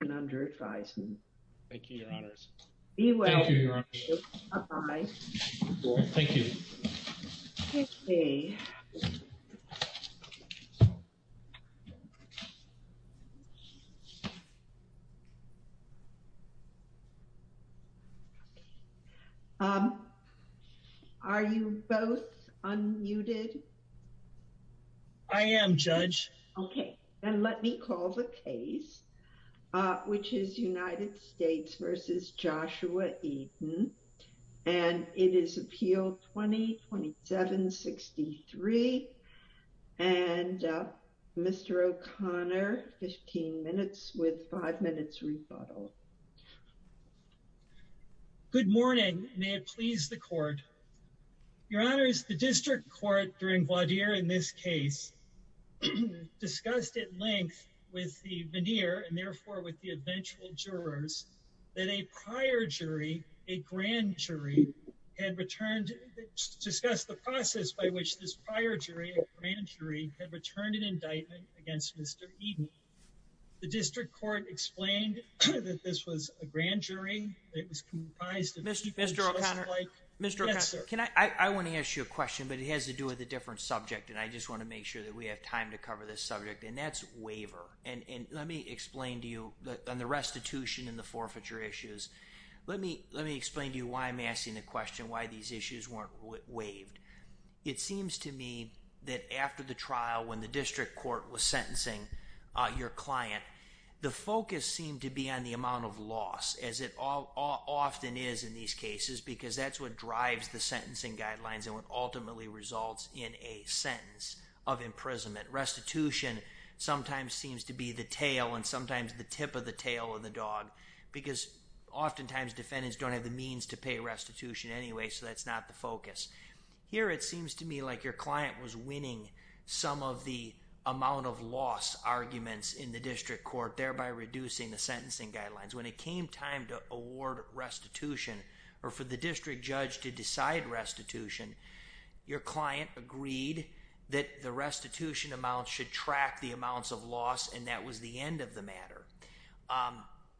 and under advisement. Thank you, Your Honors. Be well. Are you both unmuted? I am, Judge. Okay, and let me call the case, which is United States v. Joshua Eaden. And it is appeal 20-27-63. And Mr. O'Connor, 15 minutes with five minutes rebuttal. Good morning. May it please the court. Your Honors, the district court during voir dire in this case discussed at length with the veneer and therefore with the eventual jurors that a prior jury, a grand jury, had returned to discuss the process by which this prior jury, a grand jury, had returned an indictment against Mr. Eaden. The district court explained that this was a grand jury. It was comprised of Mr. O'Connor. Mr. O'Connor, I want to ask you a question, but it has to do with a different subject. And I just want to make sure that we have time to cover this subject. And that's waiver. And let me explain to you on the restitution and the forfeiture issues. Let me let me explain to you why I'm asking the question why these issues weren't waived. It seems to me that after the trial, when the district court was sentencing your client, the focus seemed to be on the amount of loss, as it often is in these cases, because that's what drives the sentencing guidelines and what ultimately results in a sentence of imprisonment. Restitution sometimes seems to be the tail and sometimes the tip of the tail of the dog, because oftentimes defendants don't have the means to pay restitution anyway, so that's not the focus. Here it seems to me like your client was winning some of the amount of loss arguments in the district court, thereby reducing the sentencing guidelines. When it came time to award restitution or for the district judge to decide restitution, your client agreed that the restitution amount should track the amounts of loss, and that was the end of the matter.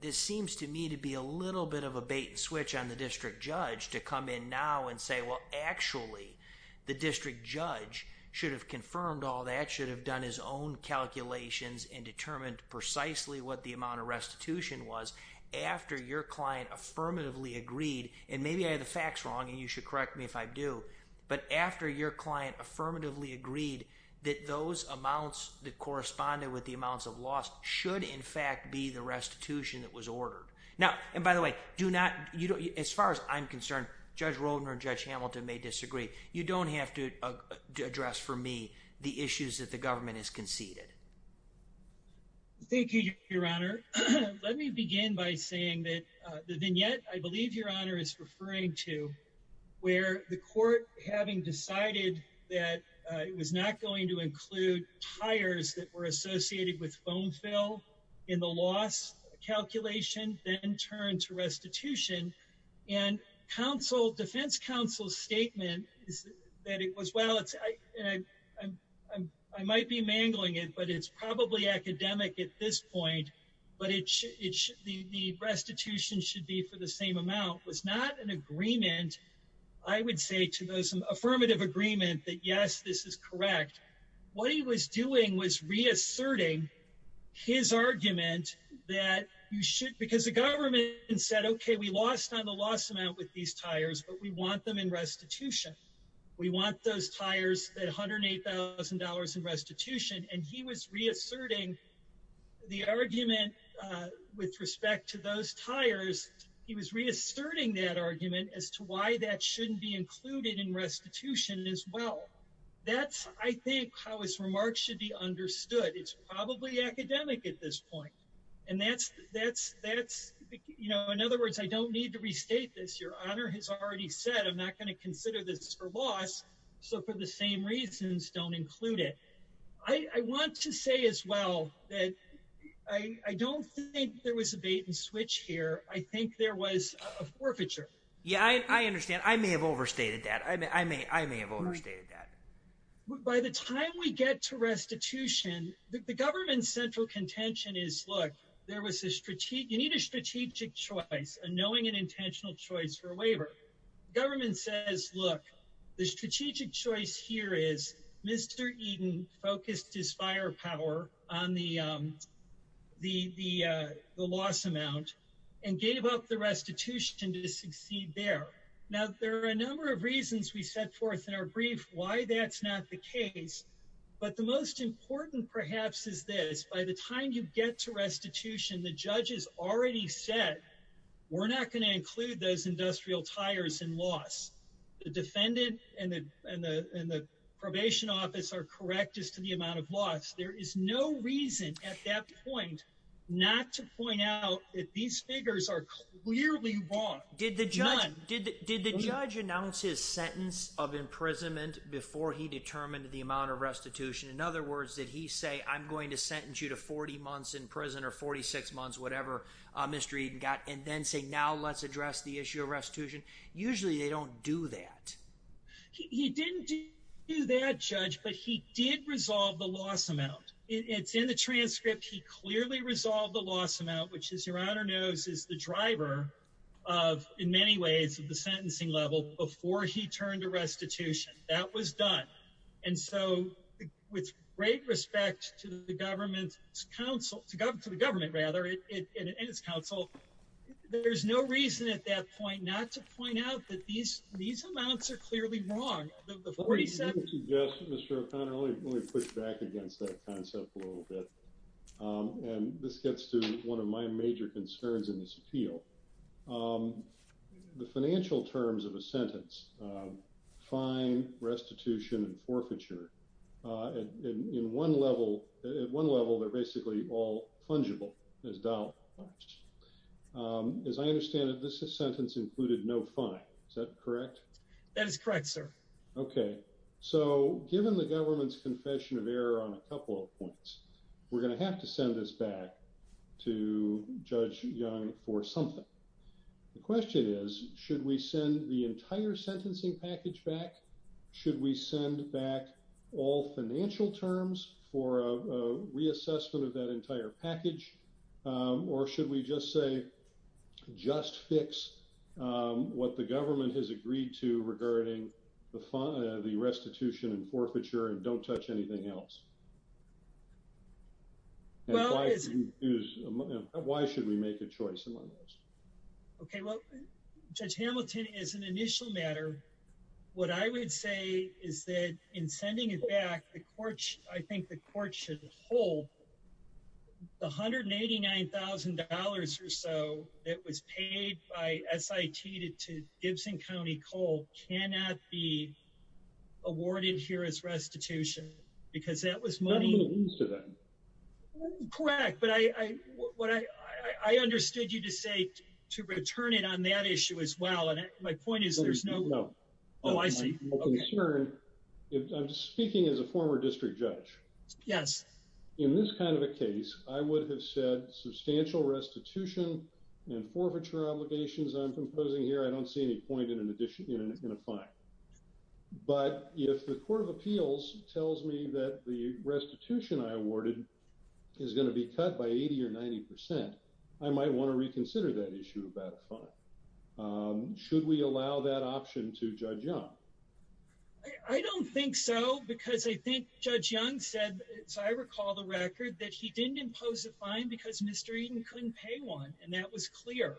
This seems to me to be a little bit of a bait and switch on the district judge to come in now and say, well, actually, the district judge should have confirmed all that, should have done his own calculations and determined precisely what the amount of restitution was after your client affirmatively agreed. And maybe I have the facts wrong, and you should correct me if I do, but after your client affirmatively agreed that those amounts that corresponded with the amounts of loss should in fact be the restitution that was ordered. Now, and by the way, do not, as far as I'm concerned, Judge Roldner and Judge Hamilton may disagree. You don't have to address for me the issues that the government has conceded. Thank you, Your Honor. Let me begin by saying that the vignette, I believe Your Honor is referring to, where the court having decided that it was not going to include tires that were associated with bone fill in the loss calculation, then turned to restitution. And defense counsel's statement that it was, well, I might be mangling it, but it's probably academic at this point, but the restitution should be for the same amount, was not an agreement, I would say to those affirmative agreement that yes, this is correct. What he was doing was reasserting his argument that you should, because the government said, okay, we lost on the loss amount with these tires, but we want them in restitution. We want those tires at $108,000 in restitution, and he was reasserting the argument with respect to those tires, he was reasserting that argument as to why that shouldn't be included in restitution as well. That's, I think, how his remarks should be understood. It's probably academic at this point. And that's, you know, in other words, I don't need to restate this. Your Honor has already said I'm not going to consider this for loss, so for the same reasons, don't include it. I want to say as well that I don't think there was a bait and switch here. I think there was a forfeiture. Yeah, I understand. I may have overstated that. I may have overstated that. By the time we get to restitution, the government's central contention is, look, you need a strategic choice, a knowing and intentional choice for a waiver. The government says, look, the strategic choice here is Mr. Eden focused his firepower on the loss amount and gave up the restitution to succeed there. Now, there are a number of reasons we set forth in our brief why that's not the case. But the most important, perhaps, is this. By the time you get to restitution, the judges already said we're not going to include those industrial tires in loss. The defendant and the probation office are correct as to the amount of loss. There is no reason at that point not to point out that these figures are clearly wrong. Did the judge announce his sentence of imprisonment before he determined the amount of restitution? In other words, did he say, I'm going to sentence you to 40 months in prison or 46 months, whatever, Mr. Eden got, and then say, now let's address the issue of restitution? Usually they don't do that. He didn't do that, Judge, but he did resolve the loss amount. It's in the transcript. He clearly resolved the loss amount, which, as Your Honor knows, is the driver of, in many ways, the sentencing level before he turned to restitution. That was done. And so, with great respect to the government and its counsel, there's no reason at that point not to point out that these amounts are clearly wrong. Before he said... Mr. O'Connor, let me push back against that concept a little bit. And this gets to one of my major concerns in this appeal. The financial terms of a sentence, fine, restitution, and forfeiture, in one level, at one level, they're basically all fungible as dollars. As I understand it, this sentence included no fine. Is that correct? That is correct, sir. Okay. So, given the government's confession of error on a couple of points, we're going to have to send this back to Judge Young for something. The question is, should we send the entire sentencing package back? Should we send back all financial terms for a reassessment of that entire package? Or should we just say, just fix what the government has agreed to regarding the restitution and forfeiture and don't touch anything else? Why should we make a choice in one of those? Okay, well, Judge Hamilton, as an initial matter, what I would say is that in sending it back, I think the court should hold the $189,000 or so that was paid by SIT to Gibson County Coal cannot be awarded here as restitution. Because that was money... I don't know what it means to them. Correct, but I understood you to say to return it on that issue as well, and my point is there's no... Oh, I see. I'm speaking as a former district judge. Yes. In this kind of a case, I would have said substantial restitution and forfeiture obligations I'm proposing here, I don't see any point in a fine. But if the Court of Appeals tells me that the restitution I awarded is going to be cut by 80 or 90%, I might want to reconsider that issue about a fine. Should we allow that option to Judge Young? I don't think so, because I think Judge Young said, so I recall the record, that he didn't impose a fine because Mr. Eaton couldn't pay one, and that was clear.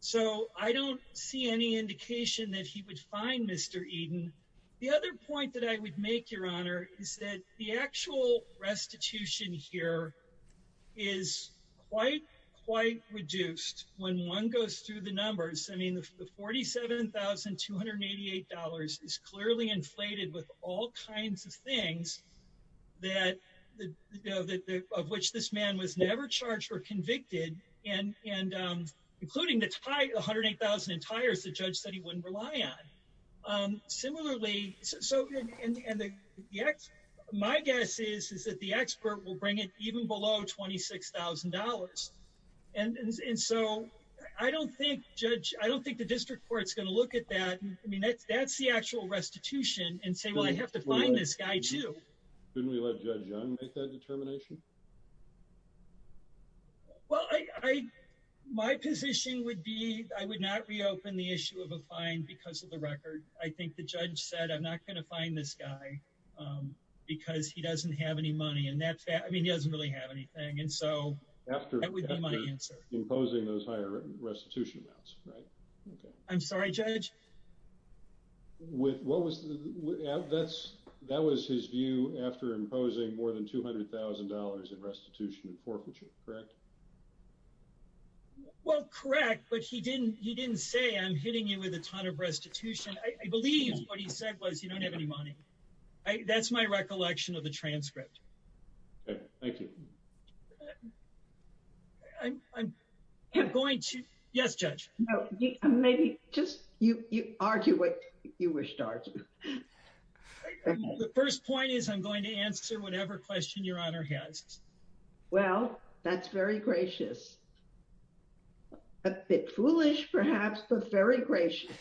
So, I don't see any indication that he would fine Mr. Eaton. The other point that I would make, Your Honor, is that the actual restitution here is quite, quite reduced when one goes through the numbers. I mean, the $47,288 is clearly inflated with all kinds of things of which this man was never charged or convicted, including the $108,000 in tires the judge said he wouldn't rely on. Similarly, my guess is that the expert will bring it even below $26,000. And so, I don't think the district court is going to look at that. I mean, that's the actual restitution and say, well, I have to fine this guy, too. Shouldn't we let Judge Young make that determination? Well, my position would be I would not reopen the issue of a fine because of the record. I think the judge said, I'm not going to fine this guy because he doesn't have any money. I mean, he doesn't really have anything. And so, that would be my answer. After imposing those higher restitution amounts, right? I'm sorry, Judge? That was his view after imposing more than $200,000 in restitution and forfeiture, correct? Well, correct, but he didn't say I'm hitting you with a ton of restitution. I believe what he said was you don't have any money. That's my recollection of the transcript. Okay, thank you. I'm going to, yes, Judge? Maybe just argue what you wish to argue. The first point is I'm going to answer whatever question Your Honor has. Well, that's very gracious. A bit foolish, perhaps, but very gracious.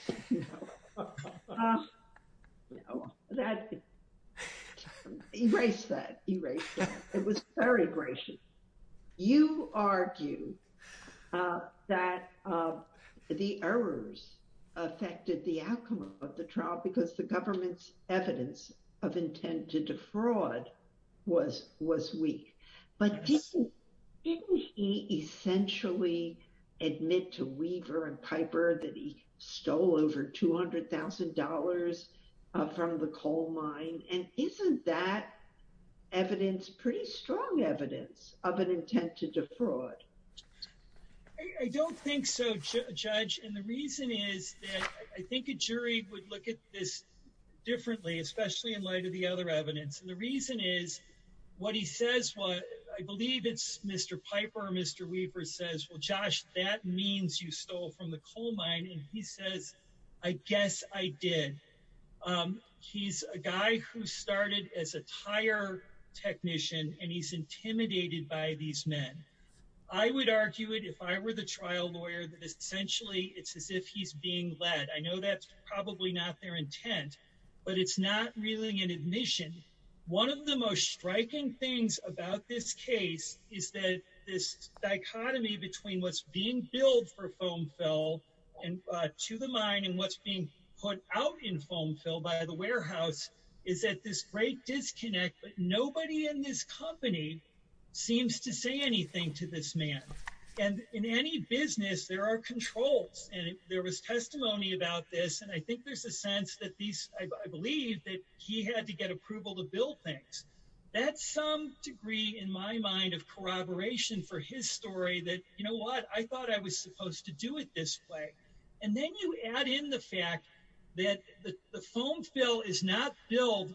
Erase that. It was very gracious. You argue that the errors affected the outcome of the trial because the government's evidence of intent to defraud was weak. But didn't he essentially admit to Weaver and Piper that he stole over $200,000 from the coal mine? And isn't that evidence, pretty strong evidence of an intent to defraud? I don't think so, Judge. And the reason is that I think a jury would look at this differently, especially in light of the other evidence. And the reason is what he says, I believe it's Mr. Piper or Mr. Weaver says, well, Josh, that means you stole from the coal mine. And he says, I guess I did. He's a guy who started as a tire technician, and he's intimidated by these men. I would argue it if I were the trial lawyer that essentially it's as if he's being led. I know that's probably not their intent, but it's not really an admission. One of the most striking things about this case is that this dichotomy between what's being billed for foam fill to the mine and what's being put out in foam fill by the warehouse is that this great disconnect, but nobody in this company seems to say anything to this man. And in any business, there are controls, and there was testimony about this. And I think there's a sense that these, I believe that he had to get approval to build things. That's some degree in my mind of corroboration for his story that, you know what, I thought I was supposed to do it this way. And then you add in the fact that the foam fill is not billed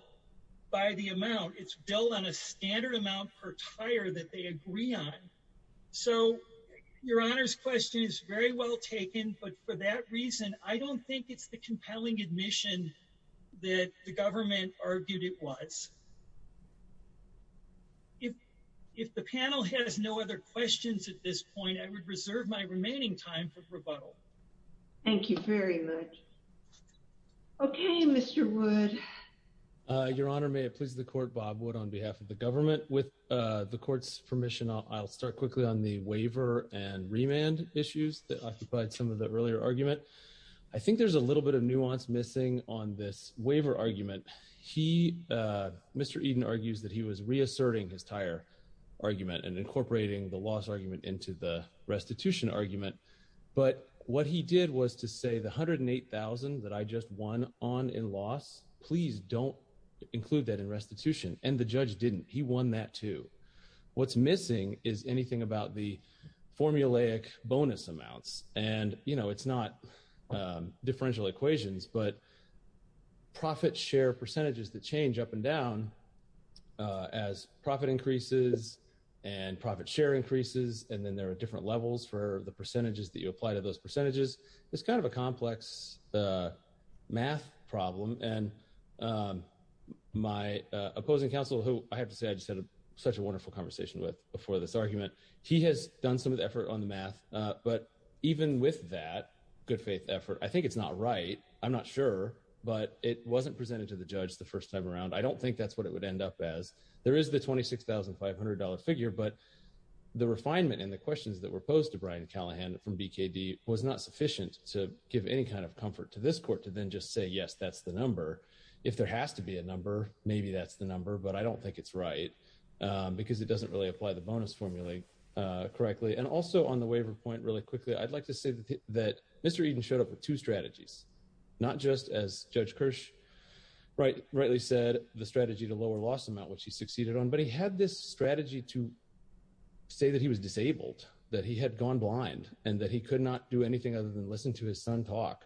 by the amount, it's billed on a standard amount per tire that they agree on. Your Honor's question is very well taken, but for that reason, I don't think it's the compelling admission that the government argued it was. If the panel has no other questions at this point, I would reserve my remaining time for rebuttal. Thank you very much. Okay, Mr. Wood. Your Honor, may it please the court, Bob Wood on behalf of the government. With the court's permission, I'll start quickly on the waiver and remand issues that occupied some of the earlier argument. I think there's a little bit of nuance missing on this waiver argument. Mr. Eden argues that he was reasserting his tire argument and incorporating the loss argument into the restitution argument. But what he did was to say the $108,000 that I just won on in loss, please don't include that in restitution. And the judge didn't. He won that too. What's missing is anything about the formulaic bonus amounts. And, you know, it's not differential equations, but profit share percentages that change up and down as profit increases and profit share increases. And then there are different levels for the percentages that you apply to those percentages. It's kind of a complex math problem. And my opposing counsel, who I have to say I just had such a wonderful conversation with before this argument, he has done some of the effort on the math. But even with that good faith effort, I think it's not right. I'm not sure, but it wasn't presented to the judge the first time around. I don't think that's what it would end up as. There is the $26,500 figure, but the refinement and the questions that were posed to Brian Callahan from BKD was not sufficient to give any kind of comfort to this court to then just say, yes, that's the number. If there has to be a number, maybe that's the number. But I don't think it's right because it doesn't really apply the bonus formula correctly. And also on the waiver point really quickly, I'd like to say that Mr. Eden showed up with two strategies, not just as Judge Kirsch rightly said, the strategy to lower loss amount, which he succeeded on. But he had this strategy to say that he was disabled, that he had gone blind, and that he could not do anything other than listen to his son talk.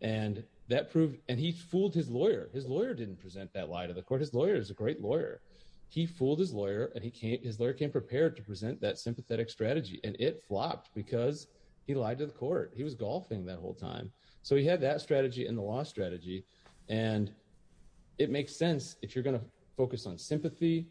And that proved and he fooled his lawyer. His lawyer didn't present that lie to the court. His lawyer is a great lawyer. He fooled his lawyer and his lawyer came prepared to present that sympathetic strategy, and it flopped because he lied to the court. He was golfing that whole time. So he had that strategy and the loss strategy, and it makes sense if you're going to focus on sympathy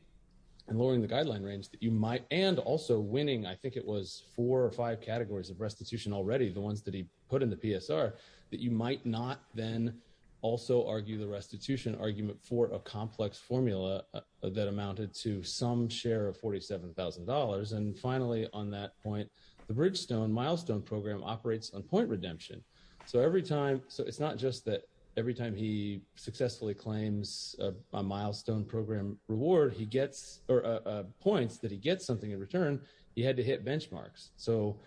and lowering the guideline range that you might, and also winning I think it was four or five categories of restitution already, the ones that he put in the PSR, that you might not then also argue the restitution argument for a complex formula. That amounted to some share of $47,000 and finally on that point, the Bridgestone milestone program operates on point redemption. So it's not just that every time he successfully claims a milestone program reward, he gets points that he gets something in return, he had to hit benchmarks. So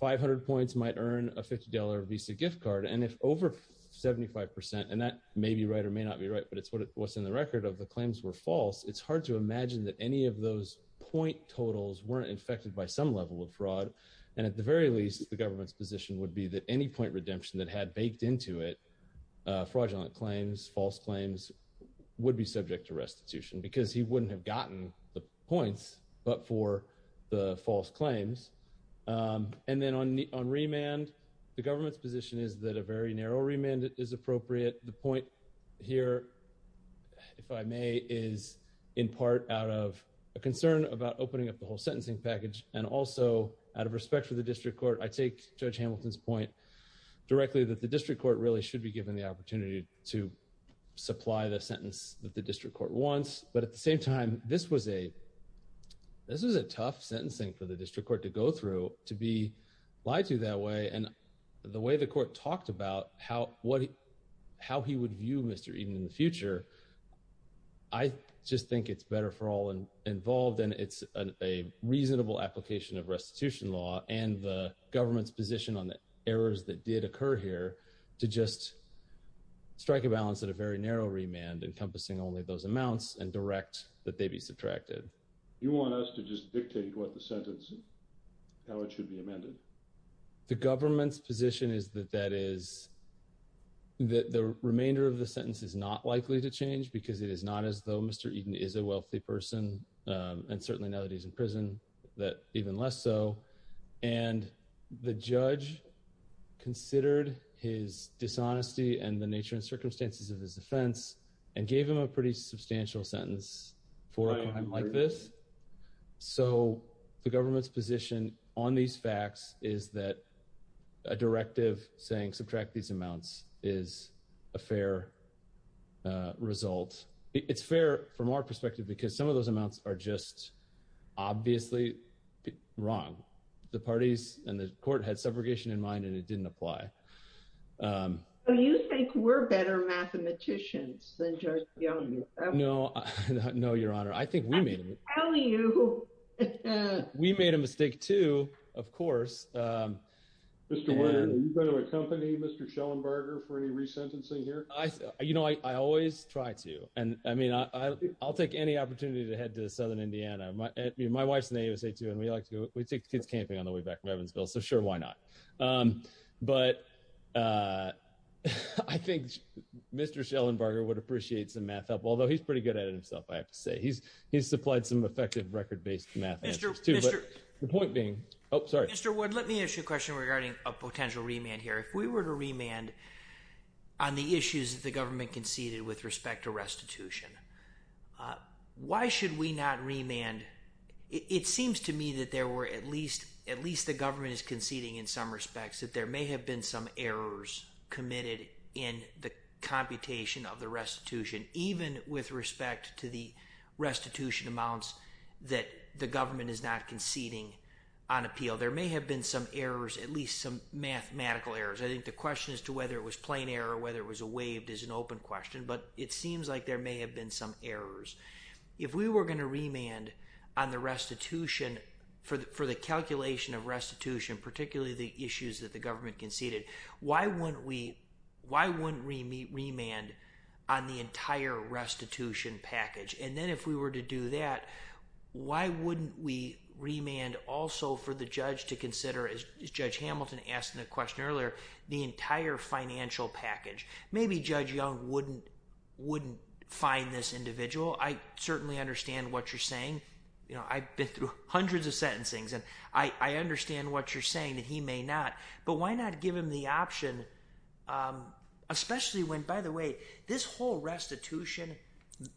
500 points might earn a $50 Visa gift card and if over 75%, and that may be right or may not be right, but it's what's in the record of the claims were false, it's hard to imagine that any of those point totals weren't affected by some level of fraud. And at the very least, the government's position would be that any point redemption that had baked into it fraudulent claims, false claims would be subject to restitution because he wouldn't have gotten the points, but for the false claims. And then on remand, the government's position is that a very narrow remand is appropriate. The point here, if I may, is in part out of a concern about opening up the whole sentencing package and also out of respect for the district court, I take Judge Hamilton's point directly that the district court really should be given the opportunity to supply the sentence that the district court wants. But at the same time, this was a tough sentencing for the district court to go through, to be lied to that way and the way the court talked about how he would view Mr. Eden in the future. I just think it's better for all involved and it's a reasonable application of restitution law and the government's position on the errors that did occur here to just strike a balance at a very narrow remand encompassing only those amounts and direct that they be subtracted. You want us to just dictate what the sentence, how it should be amended. The government's position is that that is that the remainder of the sentence is not likely to change because it is not as though Mr. Eden is a wealthy person and certainly now that he's in prison that even less so. And the judge considered his dishonesty and the nature and circumstances of his offense and gave him a pretty substantial sentence for him like this. So, the government's position on these facts is that a directive saying subtract these amounts is a fair result. It's fair from our perspective because some of those amounts are just obviously wrong. The parties and the court had subrogation in mind and it didn't apply. You think we're better mathematicians than judge. No, no, Your Honor. I think we made a mistake too, of course. You know, I always try to and I mean I'll take any opportunity to head to southern Indiana. My wife's name is a two and we like to take kids camping on the way back to Evansville so sure why not. But I think Mr. Schellenbarger would appreciate some math help, although he's pretty good at it himself. I have to say he's he's supplied some effective record based math to the point being. Oh, sorry. Mr. Wood, let me ask you a question regarding a potential remand here. If we were to remand on the issues that the government conceded with respect to restitution, why should we not remand? It seems to me that there were at least at least the government is conceding in some respects that there may have been some errors committed in the computation of the restitution, even with respect to the restitution amounts that the government is not conceding on appeal. There may have been some errors, at least some mathematical errors. I think the question as to whether it was plain error or whether it was a waived is an open question, but it seems like there may have been some errors. If we were going to remand on the restitution for the calculation of restitution, particularly the issues that the government conceded, why wouldn't we remand on the entire restitution package? And then if we were to do that, why wouldn't we remand also for the judge to consider, as Judge Hamilton asked in a question earlier, the entire financial package? Maybe Judge Young wouldn't find this individual. I certainly understand what you're saying. I've been through hundreds of sentencings, and I understand what you're saying that he may not. But why not give him the option, especially when, by the way, this whole restitution,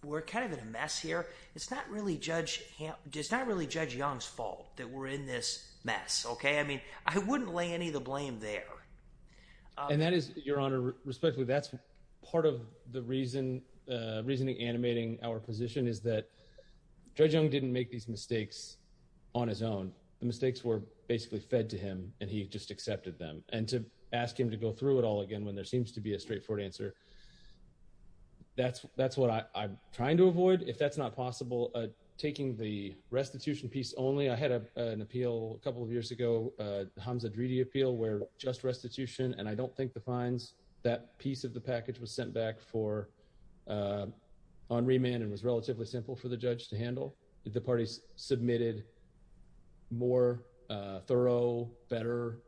we're kind of in a mess here. It's not really Judge Young's fault that we're in this mess, okay? I mean I wouldn't lay any of the blame there. And that is, Your Honor, respectfully, that's part of the reasoning animating our position is that Judge Young didn't make these mistakes on his own. The mistakes were basically fed to him, and he just accepted them. And to ask him to go through it all again when there seems to be a straightforward answer, that's what I'm trying to avoid. If that's not possible, taking the restitution piece only, I had an appeal a couple of years ago, the Hamza Dridi appeal, where just restitution, and I don't think the fines, that piece of the package was sent back on remand and was relatively simple for the judge to handle. The parties submitted more thorough, better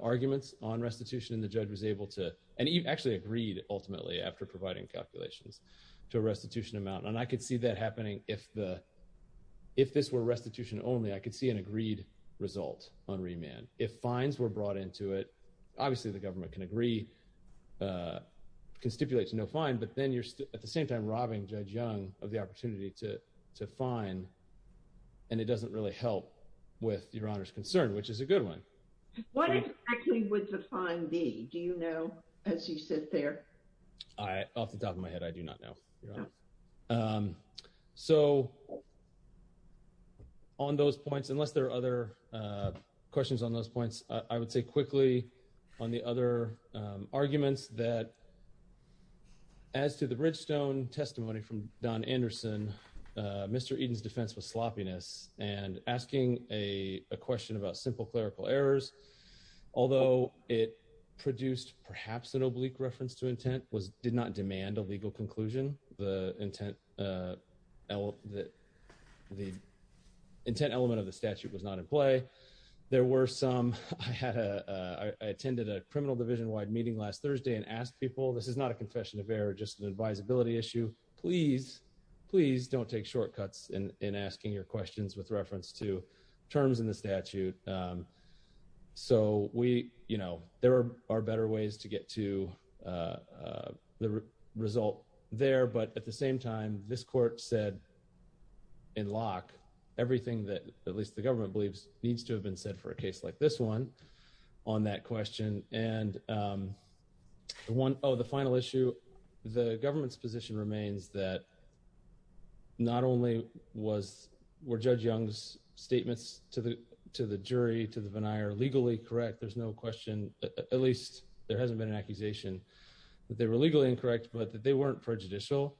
arguments on restitution, and the judge was able to, and actually agreed ultimately after providing calculations to a restitution amount. And I could see that happening if this were restitution only. I could see an agreed result on remand. If fines were brought into it, obviously the government can agree, can stipulate to no fine, but then you're at the same time robbing Judge Young of the opportunity to fine, and it doesn't really help with Your Honor's concern, which is a good one. What exactly would the fine be? Do you know as you sit there? Off the top of my head, I do not know, Your Honor. So on those points, unless there are other questions on those points, I would say quickly on the other arguments that as to the Bridgestone testimony from Don Anderson, Mr. question about simple clerical errors, although it produced perhaps an oblique reference to intent, did not demand a legal conclusion, the intent element of the statute was not in play. There were some, I attended a criminal division-wide meeting last Thursday and asked people, this is not a confession of error, just an advisability issue. Please, please don't take shortcuts in asking your questions with reference to terms in the statute. So we, you know, there are better ways to get to the result there, but at the same time, this court said in lock everything that at least the government believes needs to have been said for a case like this one on that question. And the one, oh, the final issue, the government's position remains that not only was, were Judge Young's statements to the jury, to the veneer legally correct, there's no question, at least there hasn't been an accusation, that they were legally incorrect, but that they weren't prejudicial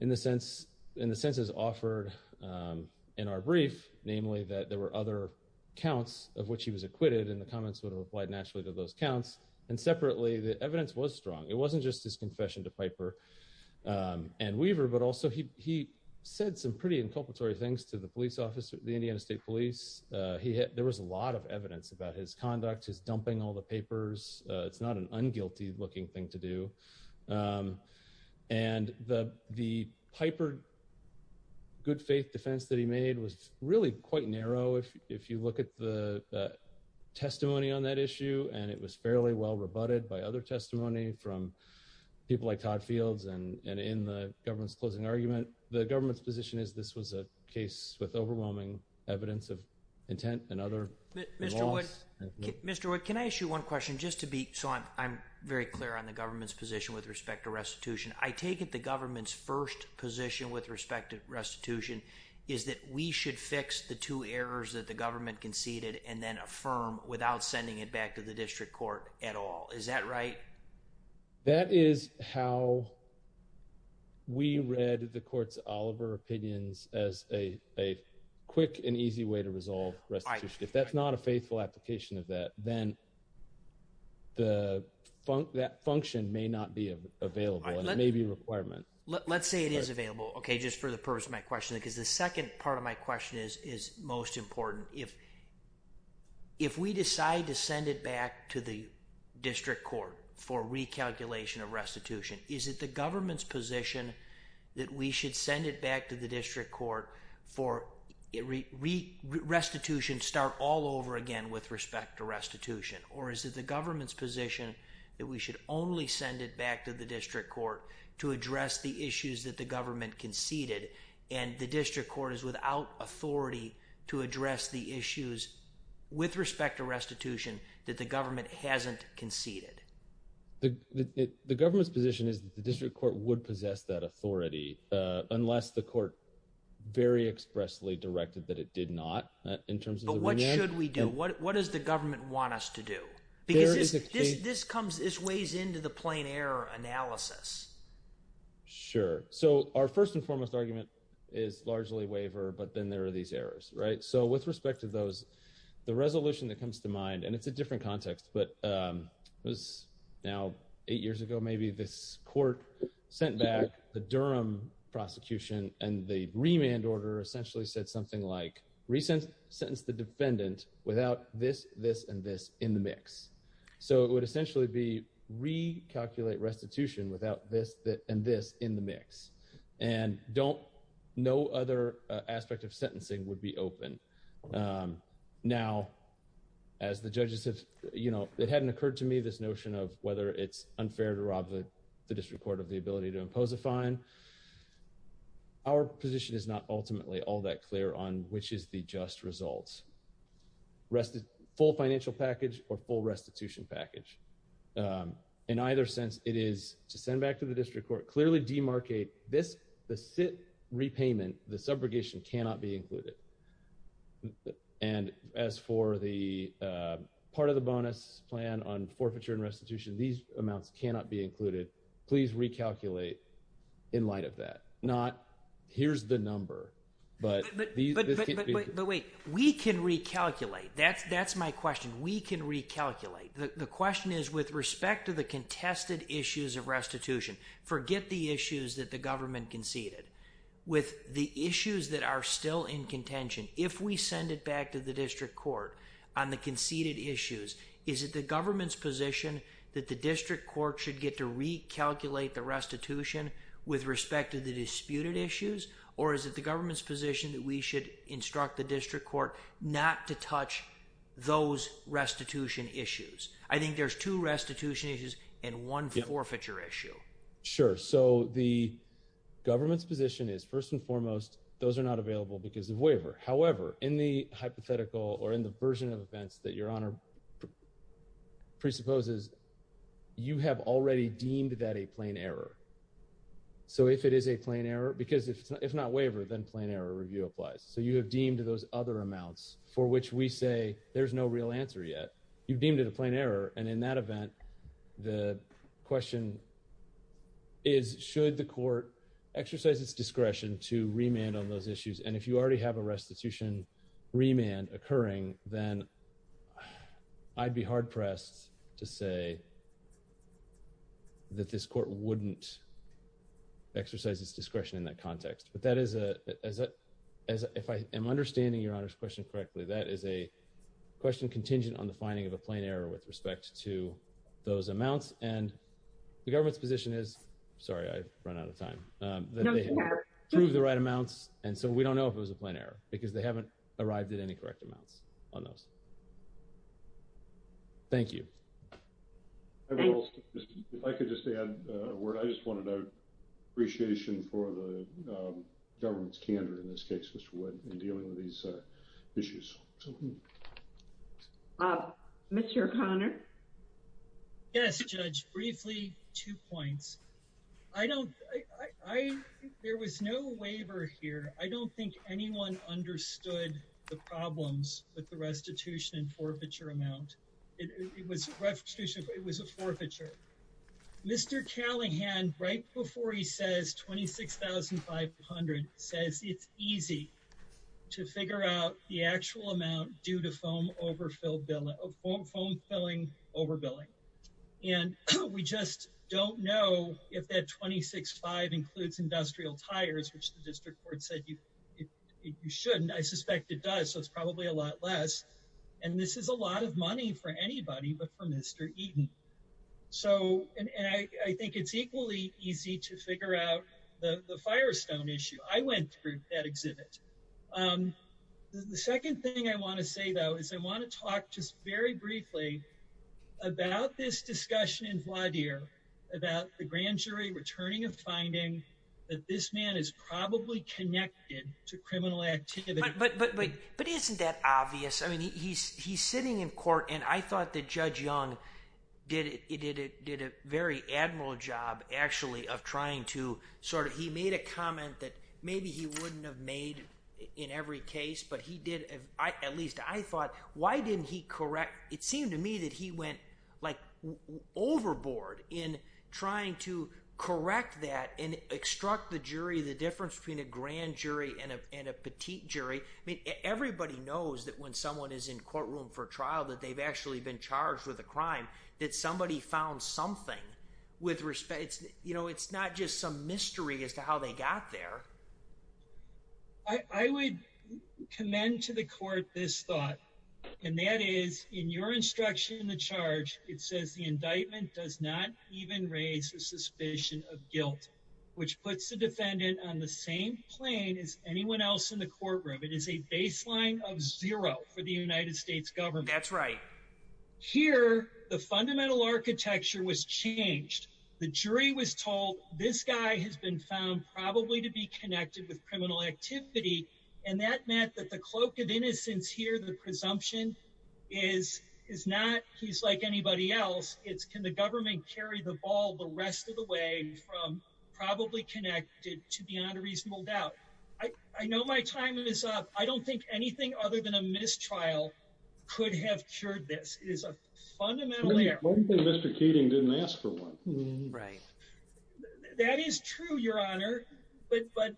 in the sense, in the senses offered in our brief, namely that there were other counts of which he was acquitted and the comments would have applied naturally to those counts. And separately, the evidence was strong. It wasn't just his confession to Piper and Weaver, but also he said some pretty inculpatory things to the police officer, the Indiana State Police. There was a lot of evidence about his conduct, his dumping all the papers. It's not an unguilty looking thing to do. And the Piper good faith defense that he made was really quite narrow if you look at the testimony on that issue, and it was fairly well rebutted by other testimony from people like Todd Fields and in the government's closing argument. The government's position is this was a case with overwhelming evidence of intent and other laws. Mr. Wood, can I ask you one question just to be, so I'm very clear on the government's position with respect to restitution. I take it the government's first position with respect to restitution is that we should fix the two errors that the government conceded and then affirm without sending it back to the district court at all. Is that right? That is how we read the court's Oliver opinions as a quick and easy way to resolve restitution. If that's not a faithful application of that, then that function may not be available and it may be a requirement. Let's say it is available. Okay, just for the purpose of my question, because the second part of my question is most important. If we decide to send it back to the district court for recalculation of restitution, is it the government's position that we should send it back to the district court for restitution start all over again with respect to restitution? Or is it the government's position that we should only send it back to the district court to address the issues that the government conceded and the district court is without authority to address the issues with respect to restitution that the government hasn't conceded? The government's position is that the district court would possess that authority unless the court very expressly directed that it did not in terms of the… But what should we do? What does the government want us to do? Because this comes – this weighs into the plain error analysis. Sure. So our first and foremost argument is largely waiver, but then there are these errors, right? So with respect to those, the resolution that comes to mind – and it's a different context, but it was now eight years ago maybe this court sent back the Durham prosecution and the remand order essentially said something like resent – sentence the defendant without this, this, and this in the mix. So it would essentially be recalculate restitution without this, this, and this in the mix. And don't – no other aspect of sentencing would be open. Now, as the judges have – you know, it hadn't occurred to me this notion of whether it's unfair to rob the district court of the ability to impose a fine. Our position is not ultimately all that clear on which is the just result – full financial package or full restitution package. In either sense, it is to send back to the district court, clearly demarcate this – the SIT repayment, the subrogation cannot be included. And as for the part of the bonus plan on forfeiture and restitution, these amounts cannot be included. Please recalculate in light of that. Not here's the number, but this can't be – That's my question. We can recalculate. The question is with respect to the contested issues of restitution, forget the issues that the government conceded. With the issues that are still in contention, if we send it back to the district court on the conceded issues, is it the government's position that the district court should get to recalculate the restitution with respect to the disputed issues? Or is it the government's position that we should instruct the district court not to touch those restitution issues? I think there's two restitution issues and one forfeiture issue. Sure. So the government's position is first and foremost those are not available because of waiver. However, in the hypothetical or in the version of events that Your Honor presupposes, you have already deemed that a plain error. So if it is a plain error – because if it's not waiver, then plain error review applies. So you have deemed those other amounts for which we say there's no real answer yet. You've deemed it a plain error, and in that event, the question is should the court exercise its discretion to remand on those issues? And if you already have a restitution remand occurring, then I'd be hard-pressed to say that this court wouldn't exercise its discretion in that context. But that is a – if I am understanding Your Honor's question correctly, that is a question contingent on the finding of a plain error with respect to those amounts. And the government's position is – sorry, I've run out of time – that they have proved the right amounts, and so we don't know if it was a plain error because they haven't arrived at any correct amounts on those. Thank you. If I could just add a word. I just want to note appreciation for the government's candor in this case, Mr. Wood, in dealing with these issues. Mr. O'Connor? Yes, Judge. Briefly, two points. I don't – there was no waiver here. I don't think anyone understood the problems with the restitution and forfeiture amount. It was a restitution, but it was a forfeiture. Mr. Callahan, right before he says $26,500, says it's easy to figure out the actual amount due to foam overfilling. And we just don't know if that $26,500 includes industrial tires, which the district court said you shouldn't. I suspect it does, so it's probably a lot less. And this is a lot of money for anybody but for Mr. Eden. So – and I think it's equally easy to figure out the Firestone issue. I went through that exhibit. The second thing I want to say, though, is I want to talk just very briefly about this discussion in Vladimir about the grand jury returning a finding that this man is probably connected to criminal activity. But isn't that obvious? I mean, he's sitting in court, and I thought that Judge Young did a very admiral job, actually, of trying to sort of – he made a comment that maybe he wouldn't have made in every case. But he did – at least I thought, why didn't he correct – it seemed to me that he went, like, overboard in trying to correct that and extract the jury, the difference between a grand jury and a petite jury. I mean, everybody knows that when someone is in courtroom for trial that they've actually been charged with a crime, that somebody found something with respect – you know, it's not just some mystery as to how they got there. I would commend to the court this thought, and that is, in your instruction in the charge, it says the indictment does not even raise a suspicion of guilt, which puts the defendant on the same plane as anyone else in the courtroom. It is a baseline of zero for the United States government. That's right. Here, the fundamental architecture was changed. The jury was told this guy has been found probably to be connected with criminal activity, and that meant that the cloak of innocence here, the presumption, is not he's like anybody else. It's can the government carry the ball the rest of the way from probably connected to beyond a reasonable doubt. I know my time is up. I don't think anything other than a mistrial could have cured this. It is a fundamental error. Mr. Keating didn't ask for one. Right. That is true, Your Honor, but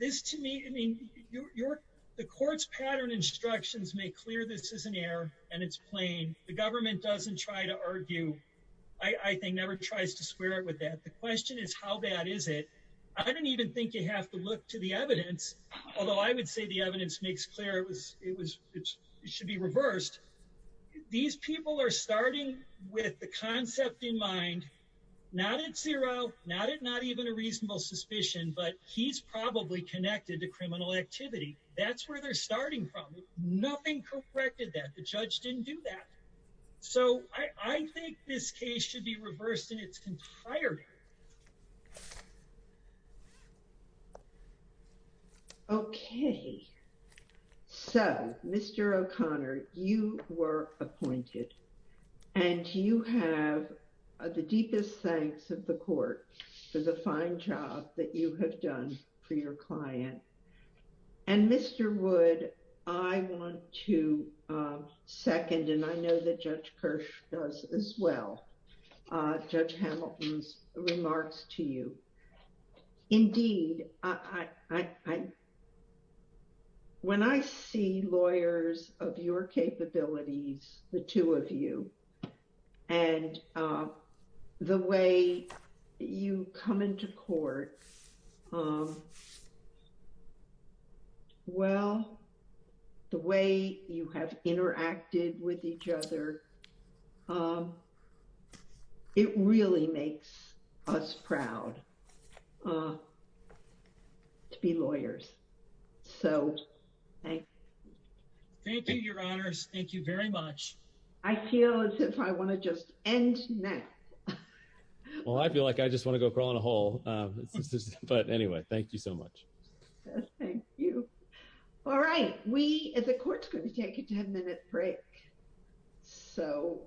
this to me, I mean, the court's pattern instructions make clear this is an error, and it's plain. The government doesn't try to argue. I think never tries to square it with that. The question is, how bad is it? I don't even think you have to look to the evidence, although I would say the evidence makes clear it should be reversed. These people are starting with the concept in mind, not at zero, not at not even a reasonable suspicion, but he's probably connected to criminal activity. That's where they're starting from. Nothing corrected that. The judge didn't do that. So I think this case should be reversed in its entirety. Okay. So, Mr. O'Connor, you were appointed. And you have the deepest thanks of the court for the fine job that you have done for your client. And, Mr. Wood, I want to second, and I know that Judge Kirsch does as well, Judge Hamilton's remarks to you. Indeed, when I see lawyers of your capabilities, the two of you, and the way you come into court, well, the way you have interacted with each other, it really makes us proud to be lawyers. So, thank you. Thank you, Your Honors. Thank you very much. I feel as if I want to just end now. Well, I feel like I just want to go crawl in a hole. But anyway, thank you so much. Thank you. All right. The court's going to take a 10-minute break. So.